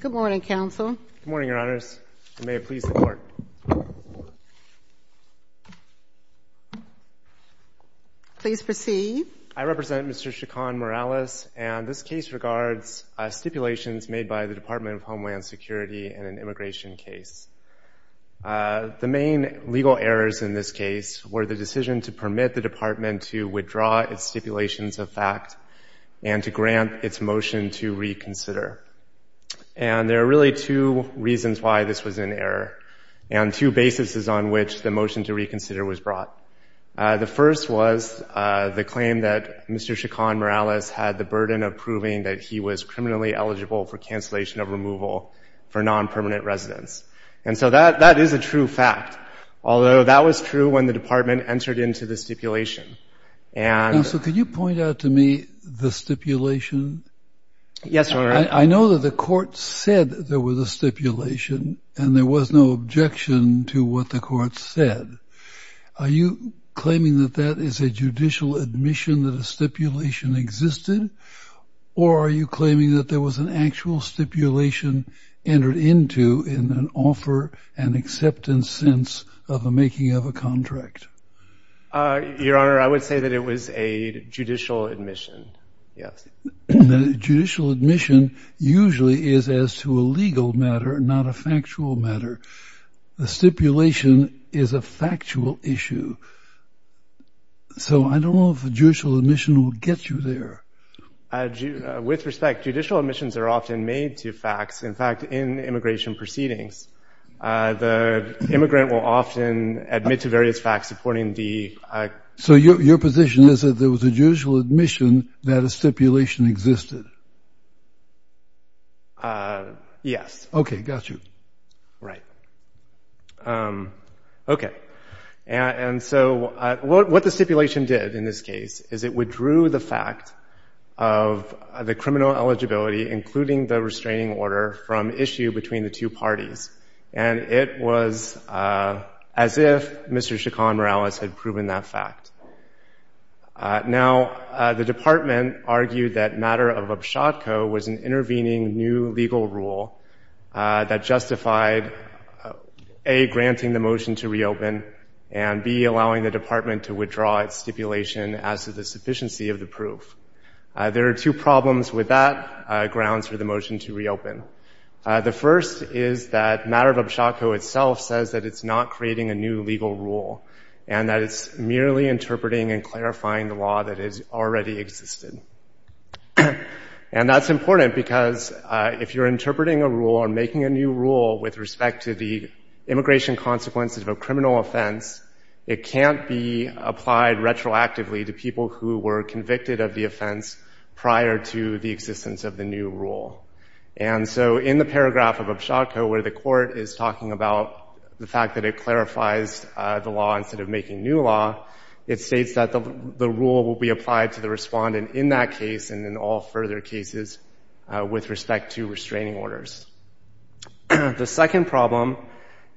Good morning, Counsel. Good morning, Your Honors. May it please the Court. Please proceed. I represent Mr. Chacon-Morales and this case regards stipulations made by the Department of Homeland Security in an immigration case. The main legal errors in this case were the decision to permit the Department to withdraw its stipulations of fact and to grant its motion to reconsider. And there are really two reasons why this was an error and two bases on which the motion to reconsider was brought. The first was the claim that Mr. Chacon-Morales had the burden of proving that he was criminally eligible for cancellation of removal for non-permanent residents. And so that is a true fact, although that was true when the Department entered into the stipulation. And... Counsel, could you point out to me the stipulation? Yes, Your Honor. I know that the Court said there was a stipulation and there was no objection to what the Court said. Are you claiming that that is a judicial admission that a stipulation existed? Or are you claiming that there was an actual stipulation entered into in an offer and acceptance sense of the making of a contract? Your Honor, I would say that it was a judicial admission, yes. Judicial admission usually is as to a legal matter, not a factual matter. The stipulation is a factual issue. So I don't know if a judicial admission will get you there. With respect, judicial admissions are often made to facts, in fact, in immigration proceedings. The immigrant will often admit to various facts supporting the... So your position is that there was a judicial admission that a stipulation existed? Yes. Okay. Got you. Right. Okay. And so what the stipulation did in this case is it withdrew the fact of the criminal eligibility, including the restraining order, from issue between the two parties. And it was as if Mr. Chacon Morales had proven that fact. Now, the Department argued that matter of abshotco was an intervening new legal rule that justified, A, granting the motion to reopen and, B, allowing the Department to withdraw its stipulation as to the sufficiency of the proof. There are two problems with that grounds for the motion to reopen. The first is that matter of abshotco itself says that it's not creating a new legal rule and that it's merely interpreting and clarifying the law that has already existed. And that's important because if you're interpreting a rule or making a new rule with respect to the immigration consequences of a criminal offense, it can't be applied retroactively to people who were convicted of the offense prior to the existence of the new rule. And so in the paragraph of abshotco where the court is talking about the fact that it clarifies the law instead of making new law, it states that the rule will be applied to the respondent in that case and in all further cases with respect to restraining orders. The second problem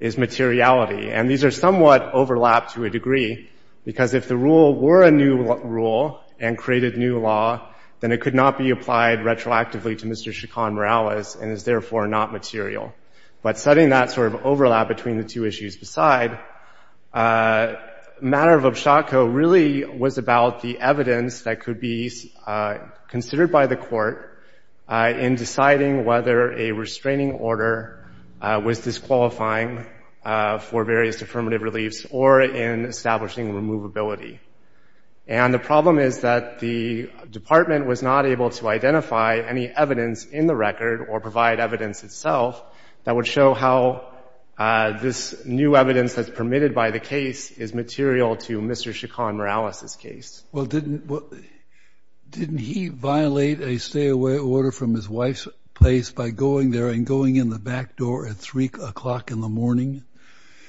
is materiality. And these are somewhat overlapped to a degree because if the rule were a new rule and created new law, then it could not be applied retroactively to Mr. Chacon Morales and is therefore not material. But setting that sort of overlap between the two issues aside, matter of abshotco really was about the evidence that could be considered by the court in deciding whether a restraining order was disqualifying for various affirmative reliefs or in establishing removability. And the problem is that the department was not able to identify any evidence in the record or provide evidence itself that would show how this new evidence that's permitted by the case is material to Mr. Chacon Morales' case. Well, didn't he violate a stay-away order from his wife's place by going there and going in the back door at 3 o'clock in the morning?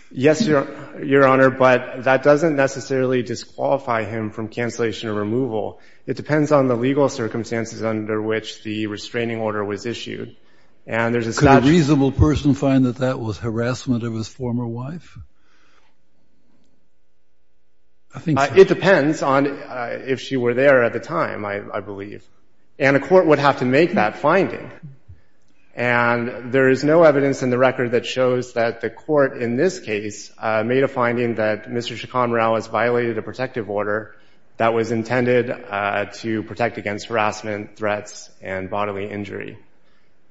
Yes, Your Honor, but that doesn't necessarily disqualify him from cancellation or removal. It depends on the legal circumstances under which the restraining order was issued. And there's a... Could a reasonable person find that that was harassment of his former wife? I think so. It depends on if she were there at the time, I believe. And a court would have to make that finding. And there is no evidence in the record that shows that the court in this case made a finding that Mr. Chacon Morales violated a protective order that was intended to protect against harassment, threats, and bodily injury.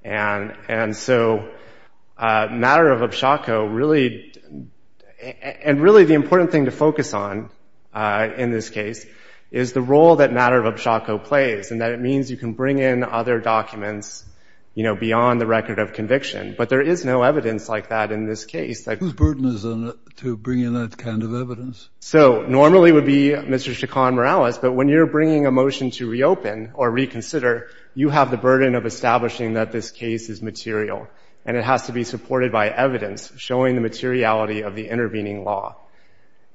And so Matter of Upshawco really... And really, the important thing to focus on in this case is the role that Matter of Upshawco plays and that it means you can bring in other documents, you know, beyond the record of conviction. But there is no evidence like that in this case. Whose burden is it to bring in that kind of evidence? So normally, it would be Mr. Chacon Morales. But when you're bringing a motion to reopen or reconsider, you have the burden of establishing that this case is material. And it has to be supported by evidence showing the materiality of the intervening law.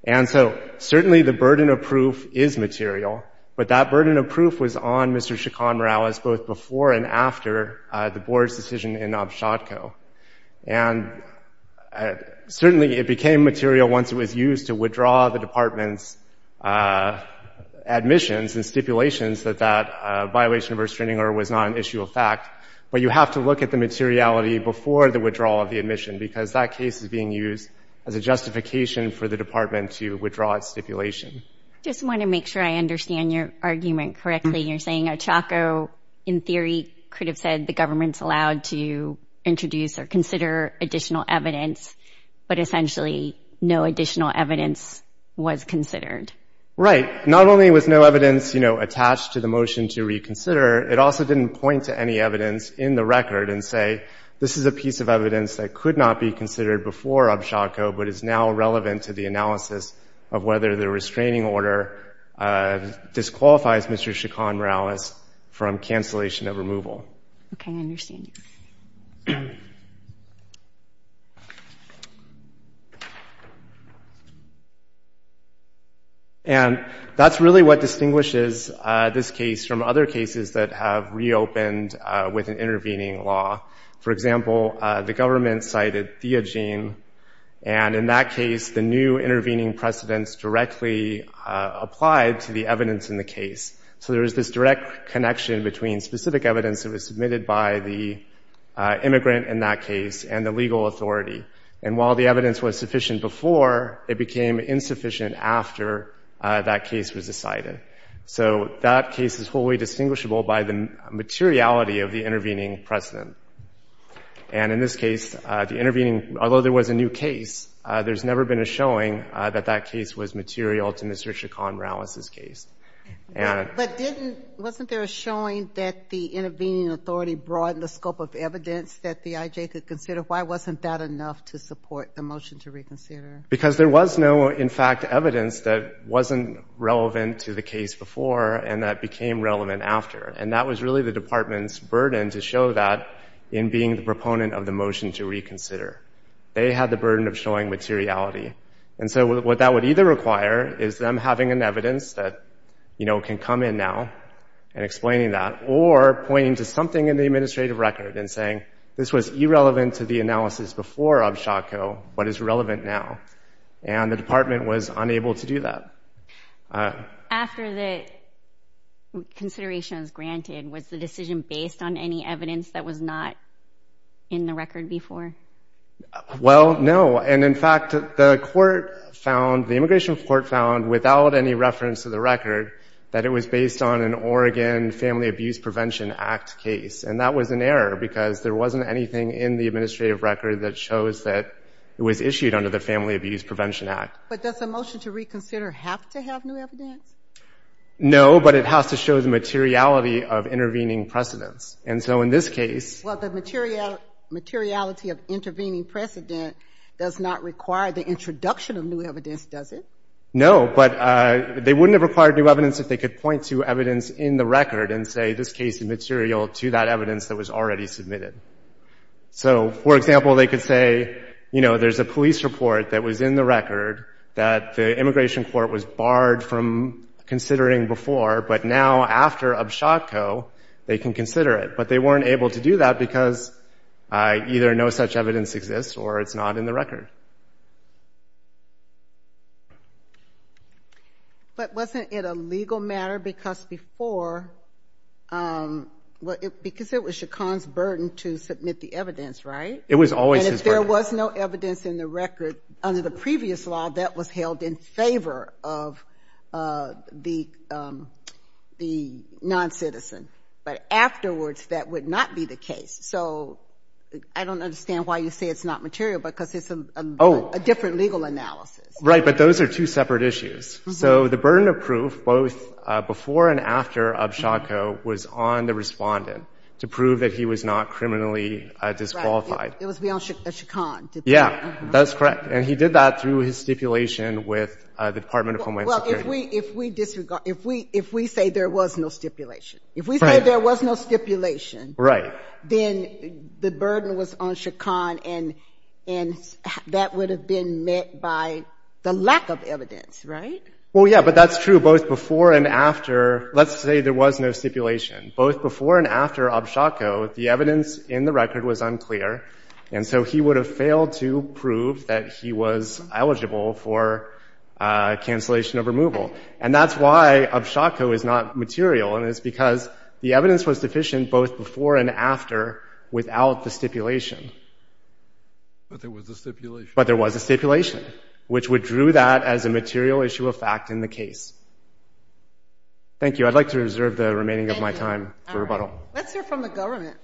And so certainly, the burden of proof is material. But that burden of proof was on Mr. Chacon Morales both before and after the board's decision in Upshawco. And certainly, it became material once it was used to withdraw the department's admissions and stipulations that that violation of restraining order was not an issue of fact. But you have to look at the materiality before the withdrawal of the admission because that case is being used as a justification for the department to withdraw its stipulation. I just want to make sure I understand your argument correctly. You're saying Upshawco, in theory, could have said the government's allowed to introduce or consider additional evidence, but essentially, no additional evidence was considered. Right. Not only was no evidence, you know, attached to the motion to reconsider, it also didn't point to any evidence in the record and say, this is a piece of evidence that could not be considered before Upshawco, but is now relevant to the analysis of whether the restraining order disqualifies Mr. Chacon Morales from cancellation of removal. Okay, I understand you. And that's really what distinguishes this case from other cases that have reopened with an intervening law. For example, the government cited Theogene, and in that case, the new intervening precedents directly applied to the evidence in the case. So there was this direct connection between specific evidence that was submitted by the immigrant in that case and the legal authority. And while the evidence was sufficient before, it became insufficient after that case was decided. So that case is fully distinguishable by the materiality of the intervening precedent. And in this case, the intervening, although there was a new case, there's never been a material to Mr. Chacon Morales' case. But wasn't there a showing that the intervening authority broadened the scope of evidence that the IJ could consider? Why wasn't that enough to support the motion to reconsider? Because there was no, in fact, evidence that wasn't relevant to the case before and that became relevant after. And that was really the department's burden to show that in being the proponent of the motion to reconsider. They had the burden of showing materiality. And so what that would either require is them having an evidence that, you know, can come in now and explaining that, or pointing to something in the administrative record and saying, this was irrelevant to the analysis before Abshako, but is relevant now. And the department was unable to do that. After the consideration was granted, was the decision based on any evidence that was not in the record before? Well, no. And, in fact, the court found, the immigration court found, without any reference to the record, that it was based on an Oregon Family Abuse Prevention Act case. And that was an error because there wasn't anything in the administrative record that shows that it was issued under the Family Abuse Prevention Act. But does the motion to reconsider have to have new evidence? No, but it has to show the materiality of intervening precedence. And so in this case... Well, the materiality of intervening precedent does not require the introduction of new evidence, does it? No, but they wouldn't have required new evidence if they could point to evidence in the record and say, this case is material to that evidence that was already submitted. So, for example, they could say, you know, there's a police report that was in the record that the immigration court was barred from considering before, but now, after UBSHOTCO, they can consider it. But they weren't able to do that because either no such evidence exists or it's not in the record. But wasn't it a legal matter because before... Because it was Shaquan's burden to submit the evidence, right? It was always his burden. And if there was no evidence in the record under the previous law, that was held in favor of the non-citizen. But afterwards, that would not be the case. So I don't understand why you say it's not material because it's a different legal analysis. Right. But those are two separate issues. So the burden of proof both before and after UBSHOTCO was on the respondent to prove that he was not criminally disqualified. Right. It was beyond Shaquan. Yeah, that's correct. And he did that through his stipulation with the Department of Homeland Security. Well, if we say there was no stipulation... Right. If we say there was no stipulation... Right. ...then the burden was on Shaquan and that would have been met by the lack of evidence, right? Well, yeah, but that's true both before and after. Let's say there was no stipulation. Both before and after UBSHOTCO, the evidence in the record was unclear. And so he would have failed to prove that he was eligible for cancellation of removal. And that's why UBSHOTCO is not material and it's because the evidence was deficient both before and after without the stipulation. But there was a stipulation. But there was a stipulation, which would drew that as a material issue of fact in the case. Thank you. I'd like to reserve the remaining of my time for rebuttal. Thank you. All right. Let's hear from the government.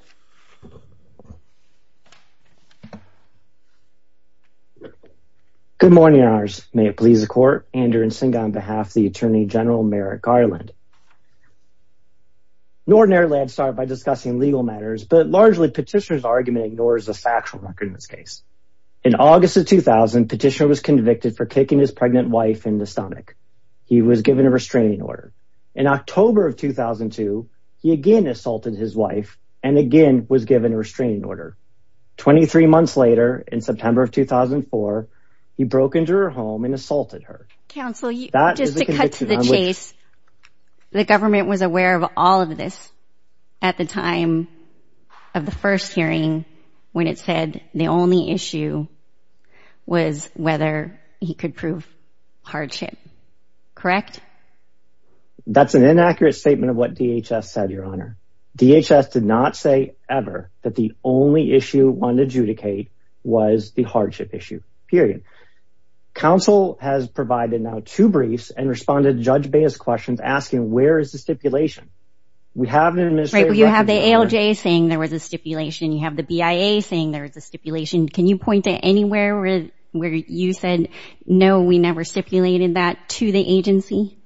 Good morning, Your Honors. May it please the Court. Andrew Nsinga on behalf of the Attorney General, Merrick Ireland. Nordinarily, I'd start by discussing legal matters, but largely petitioner's argument ignores the factual record in this case. In August of 2000, petitioner was convicted for kicking his pregnant wife in the stomach. He was given a restraining order. In October of 2002, he again assaulted his wife and again was given a restraining order. 23 months later, in September of 2004, he broke into her home and assaulted her. Counsel, just to cut to the chase, the government was aware of all of this at the time of the first hearing when it said the only issue was whether he could prove hardship. Correct? That's an inaccurate statement of what DHS said, Your Honor. DHS did not say ever that the only issue it wanted to adjudicate was the hardship issue. Period. Counsel has provided now two briefs and responded to Judge Baez's questions asking, where is the stipulation? We have an administrative record. You have the ALJ saying there was a stipulation. You have the BIA saying there was a stipulation. Can you point to anywhere where you said, no, we never stipulated that to the agency?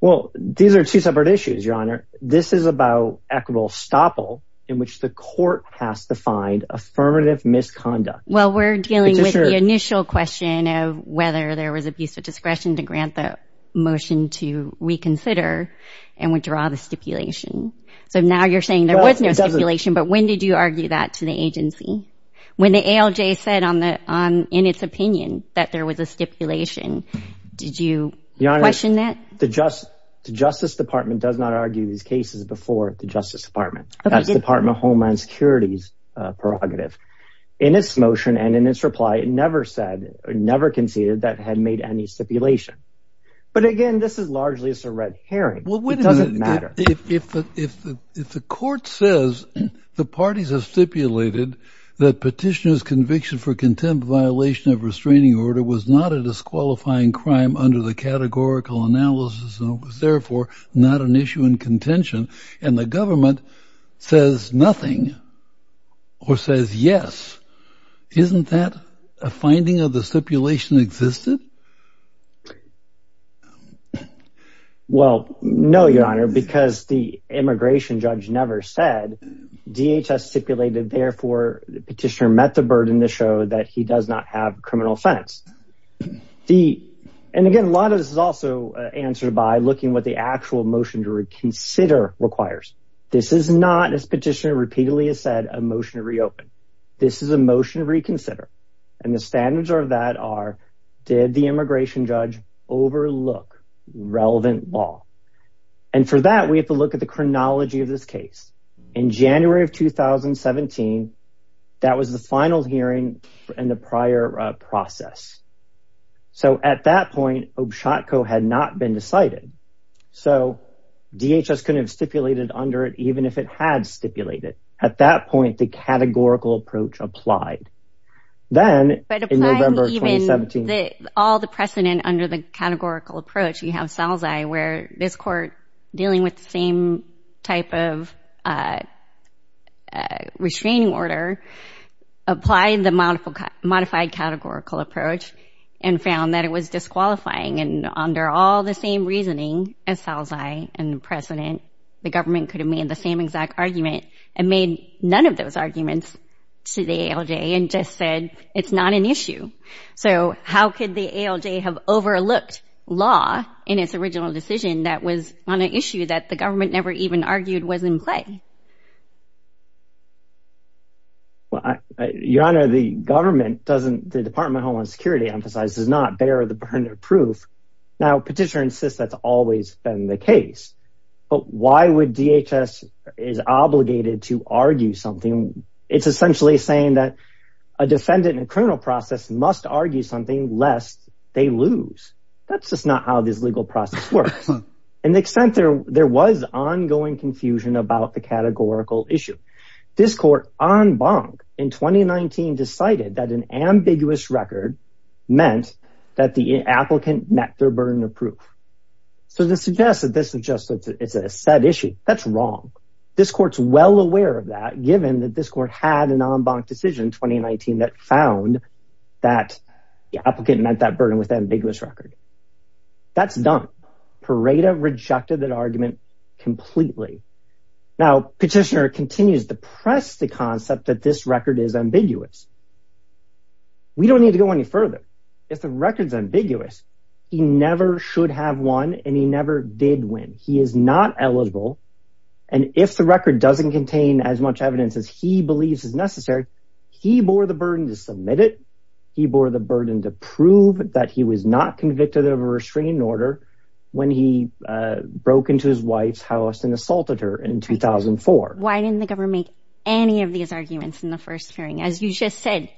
Well, these are two separate issues, Your Honor. This is about equitable estoppel in which the court has to find affirmative misconduct. Well, we're dealing with the initial question of whether there was abuse of discretion to grant the motion to reconsider and withdraw the stipulation. So now you're saying there was no stipulation, but when did you argue that to the agency? When the ALJ said in its opinion that there was a stipulation, did you question that? The Justice Department does not argue these cases before the Justice Department. That's Department of Homeland Security's prerogative. In its motion and in its reply, it never said or never conceded that it had made any stipulation. But again, this is largely a red herring. It doesn't matter. If the court says the parties have stipulated that petitioner's conviction for contempt of violation of restraining order was not a disqualifying crime under the categorical analysis and was therefore not an issue in contention, and the government says nothing or says yes, isn't that a finding of the stipulation existed? Well, no, Your Honor, because the immigration judge never said. DHS stipulated, therefore, the petitioner met the burden to show that he does not have a criminal offense. And again, a lot of this is also answered by looking what the actual motion to reconsider requires. This is not, as petitioner repeatedly has said, a motion to reopen. This is a motion to reconsider. And the standards of that are, did the immigration judge overlook relevant law? And for that, we have to look at the chronology of this case. In January of 2017, that was the final hearing in the prior process. So at that point, OBSHOTCO had not been decided. So DHS couldn't have stipulated under it, even if it had stipulated. At that point, the categorical approach applied. But applying even all the precedent under the categorical approach, you have SALZI, where this court, dealing with the same type of restraining order, applied the modified categorical approach and found that it was disqualifying. And under all the same reasoning as SALZI and precedent, the government could have made the same exact argument and made none of those arguments to the ALJ and just said, it's not an issue. So how could the ALJ have overlooked law in its original decision that was on an issue that the government never even argued was in play? Your Honor, the government doesn't, the Department of Homeland Security emphasizes, does not bear the burden of proof. Now, Petitioner insists that's always been the case. But why would DHS is obligated to argue something? It's essentially saying that a defendant in a criminal process must argue something lest they lose. That's just not how this legal process works. And the extent there was ongoing confusion about the categorical issue. This court, en banc, in 2019 decided that an ambiguous record meant that the applicant met their burden of proof. So this suggests that this is just a set issue. That's wrong. This court's well aware of that, given that this court had an en banc decision in 2019 that found that the applicant met that burden with an ambiguous record. That's dumb. Pareto rejected that argument completely. Now, Petitioner continues to press the concept that this record is ambiguous. We don't need to go any further. If the record's ambiguous, he never should have won and he never did win. He is not eligible. And if the record doesn't contain as much evidence as he believes is necessary, he bore the burden to submit it. He bore the burden to prove that he was not convicted of a restraining order when he broke into his wife's house and assaulted her in 2004. Why didn't the government make any of these arguments in the first hearing? As you just said,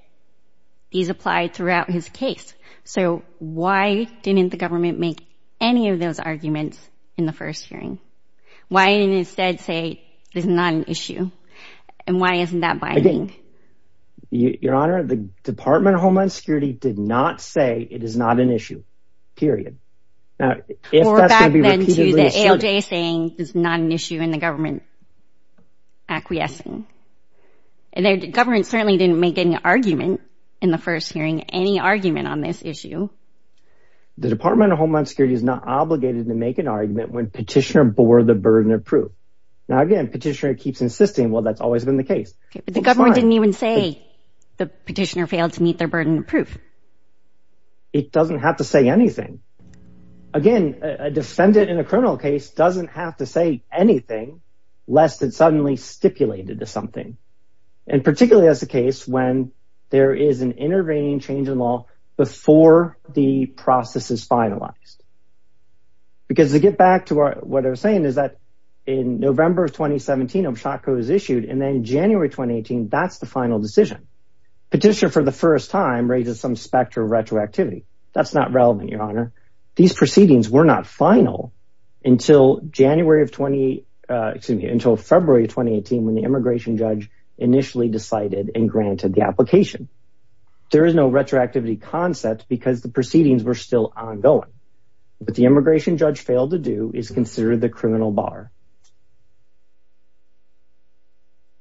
these applied throughout his case. So why didn't the government make any of those arguments in the first hearing? Why didn't it instead say, this is not an issue? And why isn't that binding? Your Honor, the Department of Homeland Security did not say it is not an issue. Period. Or back then to the ALJ saying it's not an issue and the government acquiescing. The government certainly didn't make any argument in the first hearing. Why isn't the government making any argument on this issue? The Department of Homeland Security is not obligated to make an argument when petitioner bore the burden of proof. Now again, petitioner keeps insisting, well that's always been the case. But the government didn't even say the petitioner failed to meet their burden of proof. It doesn't have to say anything. Again, a defendant in a criminal case doesn't have to say anything lest it's suddenly stipulated as something. And particularly that's the case when there is an intervening change in law before the process is finalized. Because to get back to what I was saying is that in November of 2017, a shocker was issued and then in January of 2018, that's the final decision. Petitioner for the first time raises some specter of retroactivity. That's not relevant, Your Honor. These proceedings were not final until February of 2018 when the immigration judge initially decided and granted the application. There is no retroactivity concept because the proceedings were still ongoing. What the immigration judge failed to do is consider the criminal bar.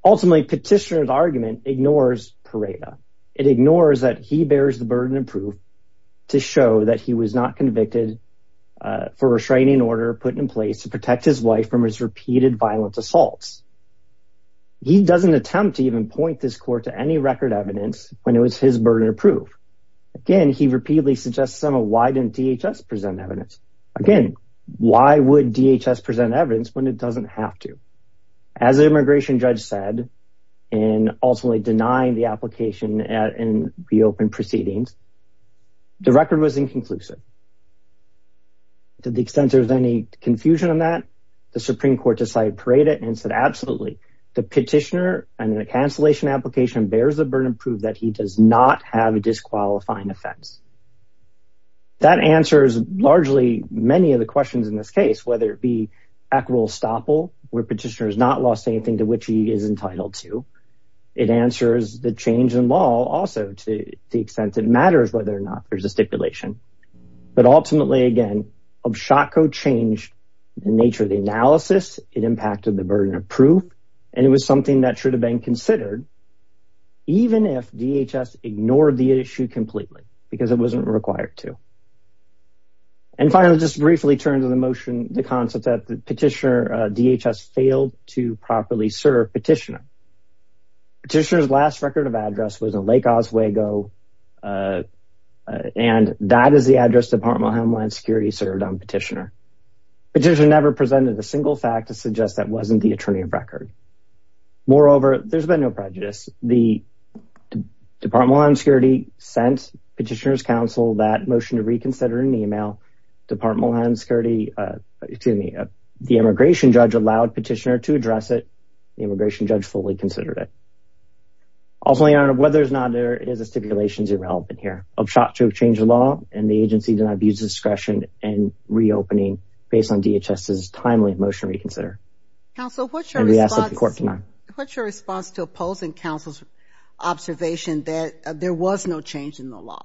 Ultimately, petitioner's argument ignores Pareto. It ignores that he bears the burden of proof to show that he was not convicted for a restraining order put in place to protect his wife from his repeated violent assaults. He doesn't attempt to even point this court to any record evidence when it was his burden of proof. Again, he repeatedly suggests, why didn't DHS present evidence? Again, why would DHS present evidence when it doesn't have to? As the immigration judge said, in ultimately denying the application in the open proceedings, the record was inconclusive. To the extent there's any confusion on that, the Supreme Court decided Pareto and said, absolutely. The petitioner and the cancellation application bears the burden of proof that he does not have a disqualifying offense. That answers largely many of the questions in this case, whether it be acquiral estoppel, where petitioner has not lost anything to which he is entitled to. It answers the change in law also to the extent it matters whether or not there's a stipulation. But ultimately, again, OBSHACO changed the nature of the analysis. It impacted the burden of proof, and it was something that should have been considered even if DHS ignored the issue completely, because it wasn't required to. And finally, just briefly turn to the motion, the concept that the petitioner, DHS failed to properly serve petitioner. Petitioner's last record of address was in Lake Oswego and that is the address Department of Homeland Security served on petitioner. Petitioner never presented a single fact to suggest that wasn't the attorney of record. Moreover, there's been no prejudice. The Department of Homeland Security sent petitioner's counsel that motion to reconsider an email. Department of Homeland Security, excuse me, the immigration judge allowed petitioner to address it. The immigration judge fully considered it. Ultimately, Your Honor, whether or not there is a stipulation is irrelevant here. OBSHACO changed the law, and the agency did not abuse discretion in reopening based on DHS's timely motion to reconsider. Counsel, what's your response to opposing counsel's observation that there was no change in the law?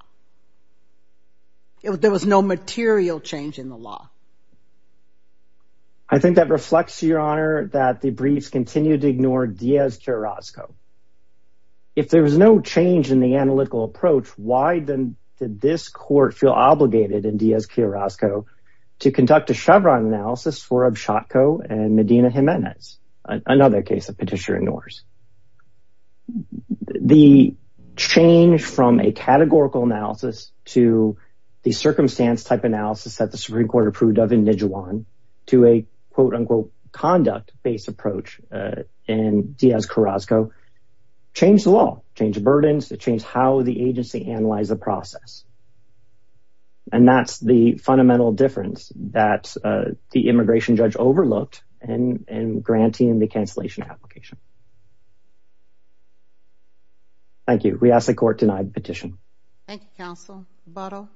There was no material change in the law. I think that reflects, Your Honor, that the briefs continued to ignore Diaz-Carrasco. If there was no change in the analytical approach, why then did this court feel obligated in Diaz-Carrasco to conduct a Chevron analysis for OBSHACO and Medina Jimenez, another case that petitioner ignores? The change from a categorical analysis to the circumstance type analysis that the Supreme Court approved of in Nijuan to a quote-unquote conduct-based approach in Diaz-Carrasco changed the law, changed the burdens, it changed how the agency analyzed the process. And that's the fundamental difference that the immigration judge overlooked in granting the cancellation application. Thank you. We ask the court to deny the petition. Thank you, counsel. Botto?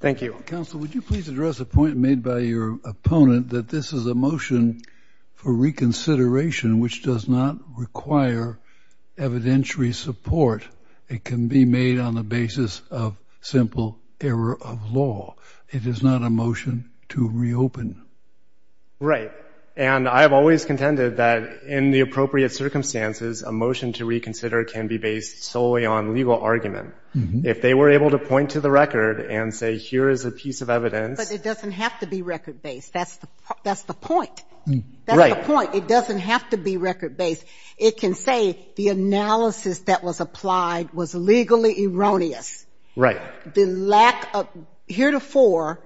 Thank you. Counsel, would you please address the point made by your opponent that this is a motion for reconsideration which does not require evidentiary support. It can be made on the basis of simple error of law. It is not a motion to reopen. Right. And I have always contended that in the appropriate circumstances, a motion to reconsider can be based solely on legal argument. If they were able to point to the record and say, here is a piece of evidence... But it doesn't have to be record-based. That's the point. That's the point. It doesn't have to be record-based. It can say the analysis that was applied was legally erroneous. Right. The lack of... Heretofore,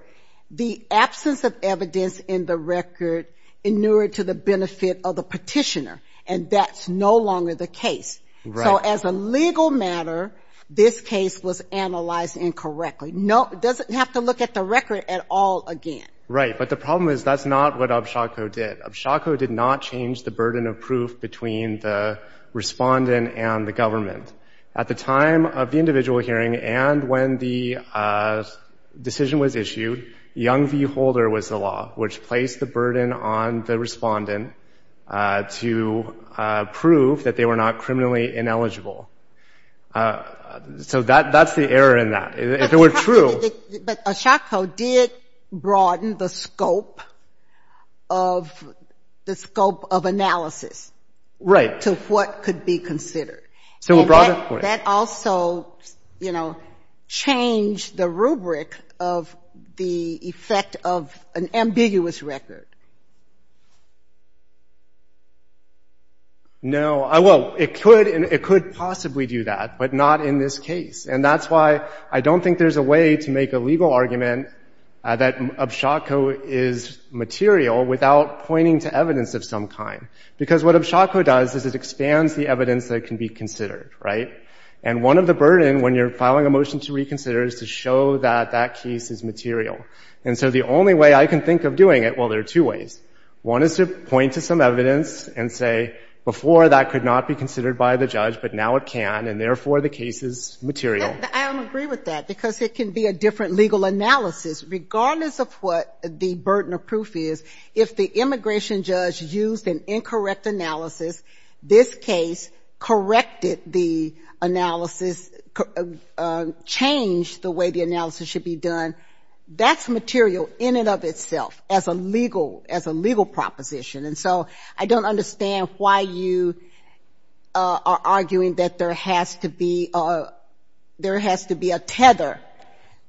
the absence of evidence in the record inured to the benefit of the petitioner. And that's no longer the case. Right. So as a legal matter, this case was analyzed incorrectly. It doesn't have to look at the record at all again. Right. But the problem is that's not what Abshako did. Abshako did not change the burden of proof between the respondent and the government. At the time of the individual hearing and when the decision was issued, Young v. Holder was the law which placed the burden on the respondent to prove that they were not criminally ineligible. So that's the error in that. If it were true... But Abshako did broaden the scope of analysis... Right. ...to what could be considered. And that also, you know, changed the rubric of the effect of an ambiguous record. No. Well, it could possibly do that, but not in this case. And that's why I don't think there's a way to make a legal argument that Abshako is material without pointing to evidence of some kind. Because what Abshako does is it expands the evidence that can be considered. Right. And one of the burden when you're filing a motion to reconsider is to show that that case is material. And so the only way I can think of doing it... Well, there are two ways. One is to point to some evidence and say, before that could not be considered by the judge, but now it can and therefore the case is material. I don't agree with that because it can be a different legal analysis regardless of what the burden of proof is. If the immigration judge used an incorrect analysis, this case corrected the analysis, changed the way the analysis should be done, that's material in and of itself as a legal proposition. And so I don't understand why you are arguing that there has to be a tether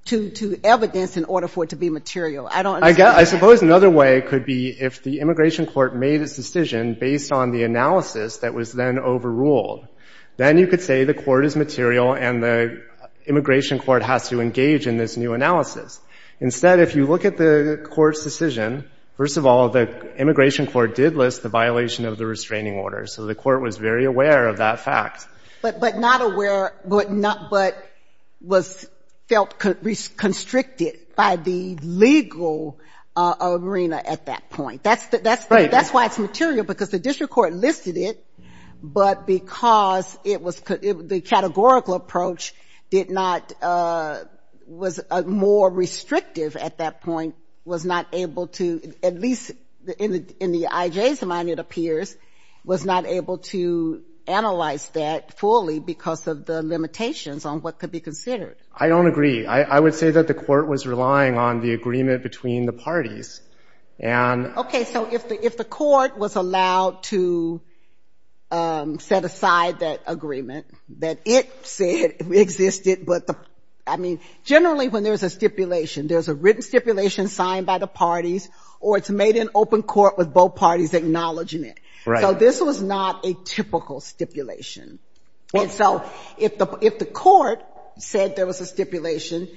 to evidence in order for it to be material. I don't understand that. I suppose another way could be if the immigration court made its decision based on the analysis that was then overruled. Then you could say the court is material and the immigration court has to engage in this new analysis. Instead, if you look at the court's decision, first of all, the immigration court did list the violation of the restraining order. So the court was very aware of that fact. But not aware but was felt constricted by the legal arena at that point. That's why it's material because the district court listed it but because the categorical approach was more restrictive at that point was not able to, at least in the IJ's mind it appears, was not able to analyze that fully because of the limitations on what could be considered. I don't agree. I would say that the court was relying on the agreement between the parties. Okay, so if the court was allowed to set aside that agreement that it said existed but the, I mean, generally when there's a stipulation, there's a written stipulation signed by the parties or it's made in open court with both parties acknowledging it. So this was not a typical stipulation. And so if the court said there was a stipulation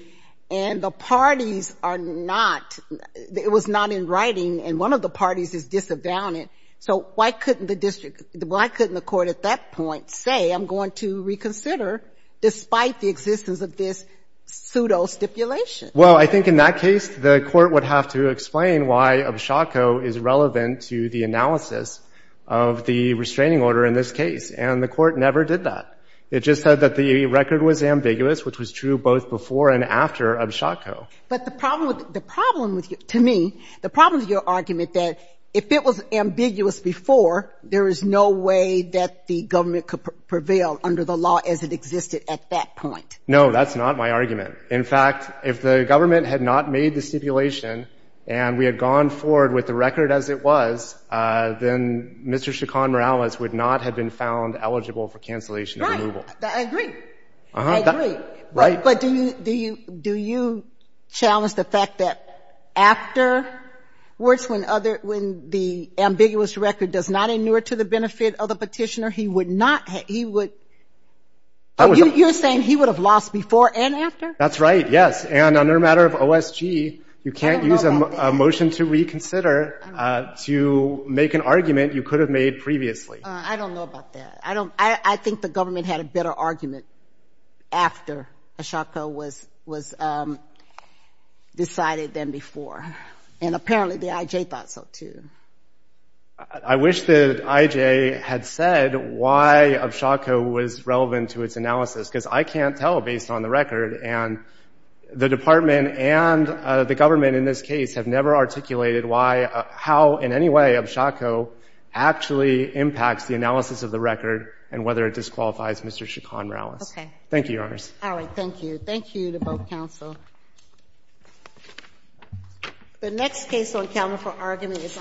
and the parties are not, it was not in writing and one of the parties is disadvantaged so why couldn't the district, why couldn't the court at that point say I'm going to reconsider despite the existence of this pseudo-stipulation? Well, I think in that case the court would have to explain why Abshako is relevant to the analysis of the restraining order in this case and the court never did that. It just said that the record was ambiguous which was true both before and after Abshako. But the problem with, to me, the problem with your argument that if it was ambiguous before there is no way that the government could prevail under the law as it existed at that point. No, that's not my argument. In fact, if the government had not made the stipulation and we had gone forward with the record as it was then Mr. Chacon-Morales would not have been found eligible for cancellation of removal. Right, I agree. I agree. But do you do you challenge the fact that afterwards when other when the ambiguous record does not inure to the benefit of the petitioner he would not he would you're saying he would have lost before and after? That's right, yes. And under matter of OSG you can't use a motion to reconsider to make an argument you could have made previously. I don't know about that. I don't I think the government had a better argument after Chaco was was decided than before. And apparently the IJ thought so too. I wish that IJ had said why Chaco was relevant to its analysis because I can't tell based on the record and the department and the government in this case have never articulated why how in any way of Chaco actually impacts the analysis and whether it disqualifies Mr. Chacon-Rowles. Okay. Thank you, Your Honor. All right, thank you. Thank you to both counsel. The next case on calendar for argument is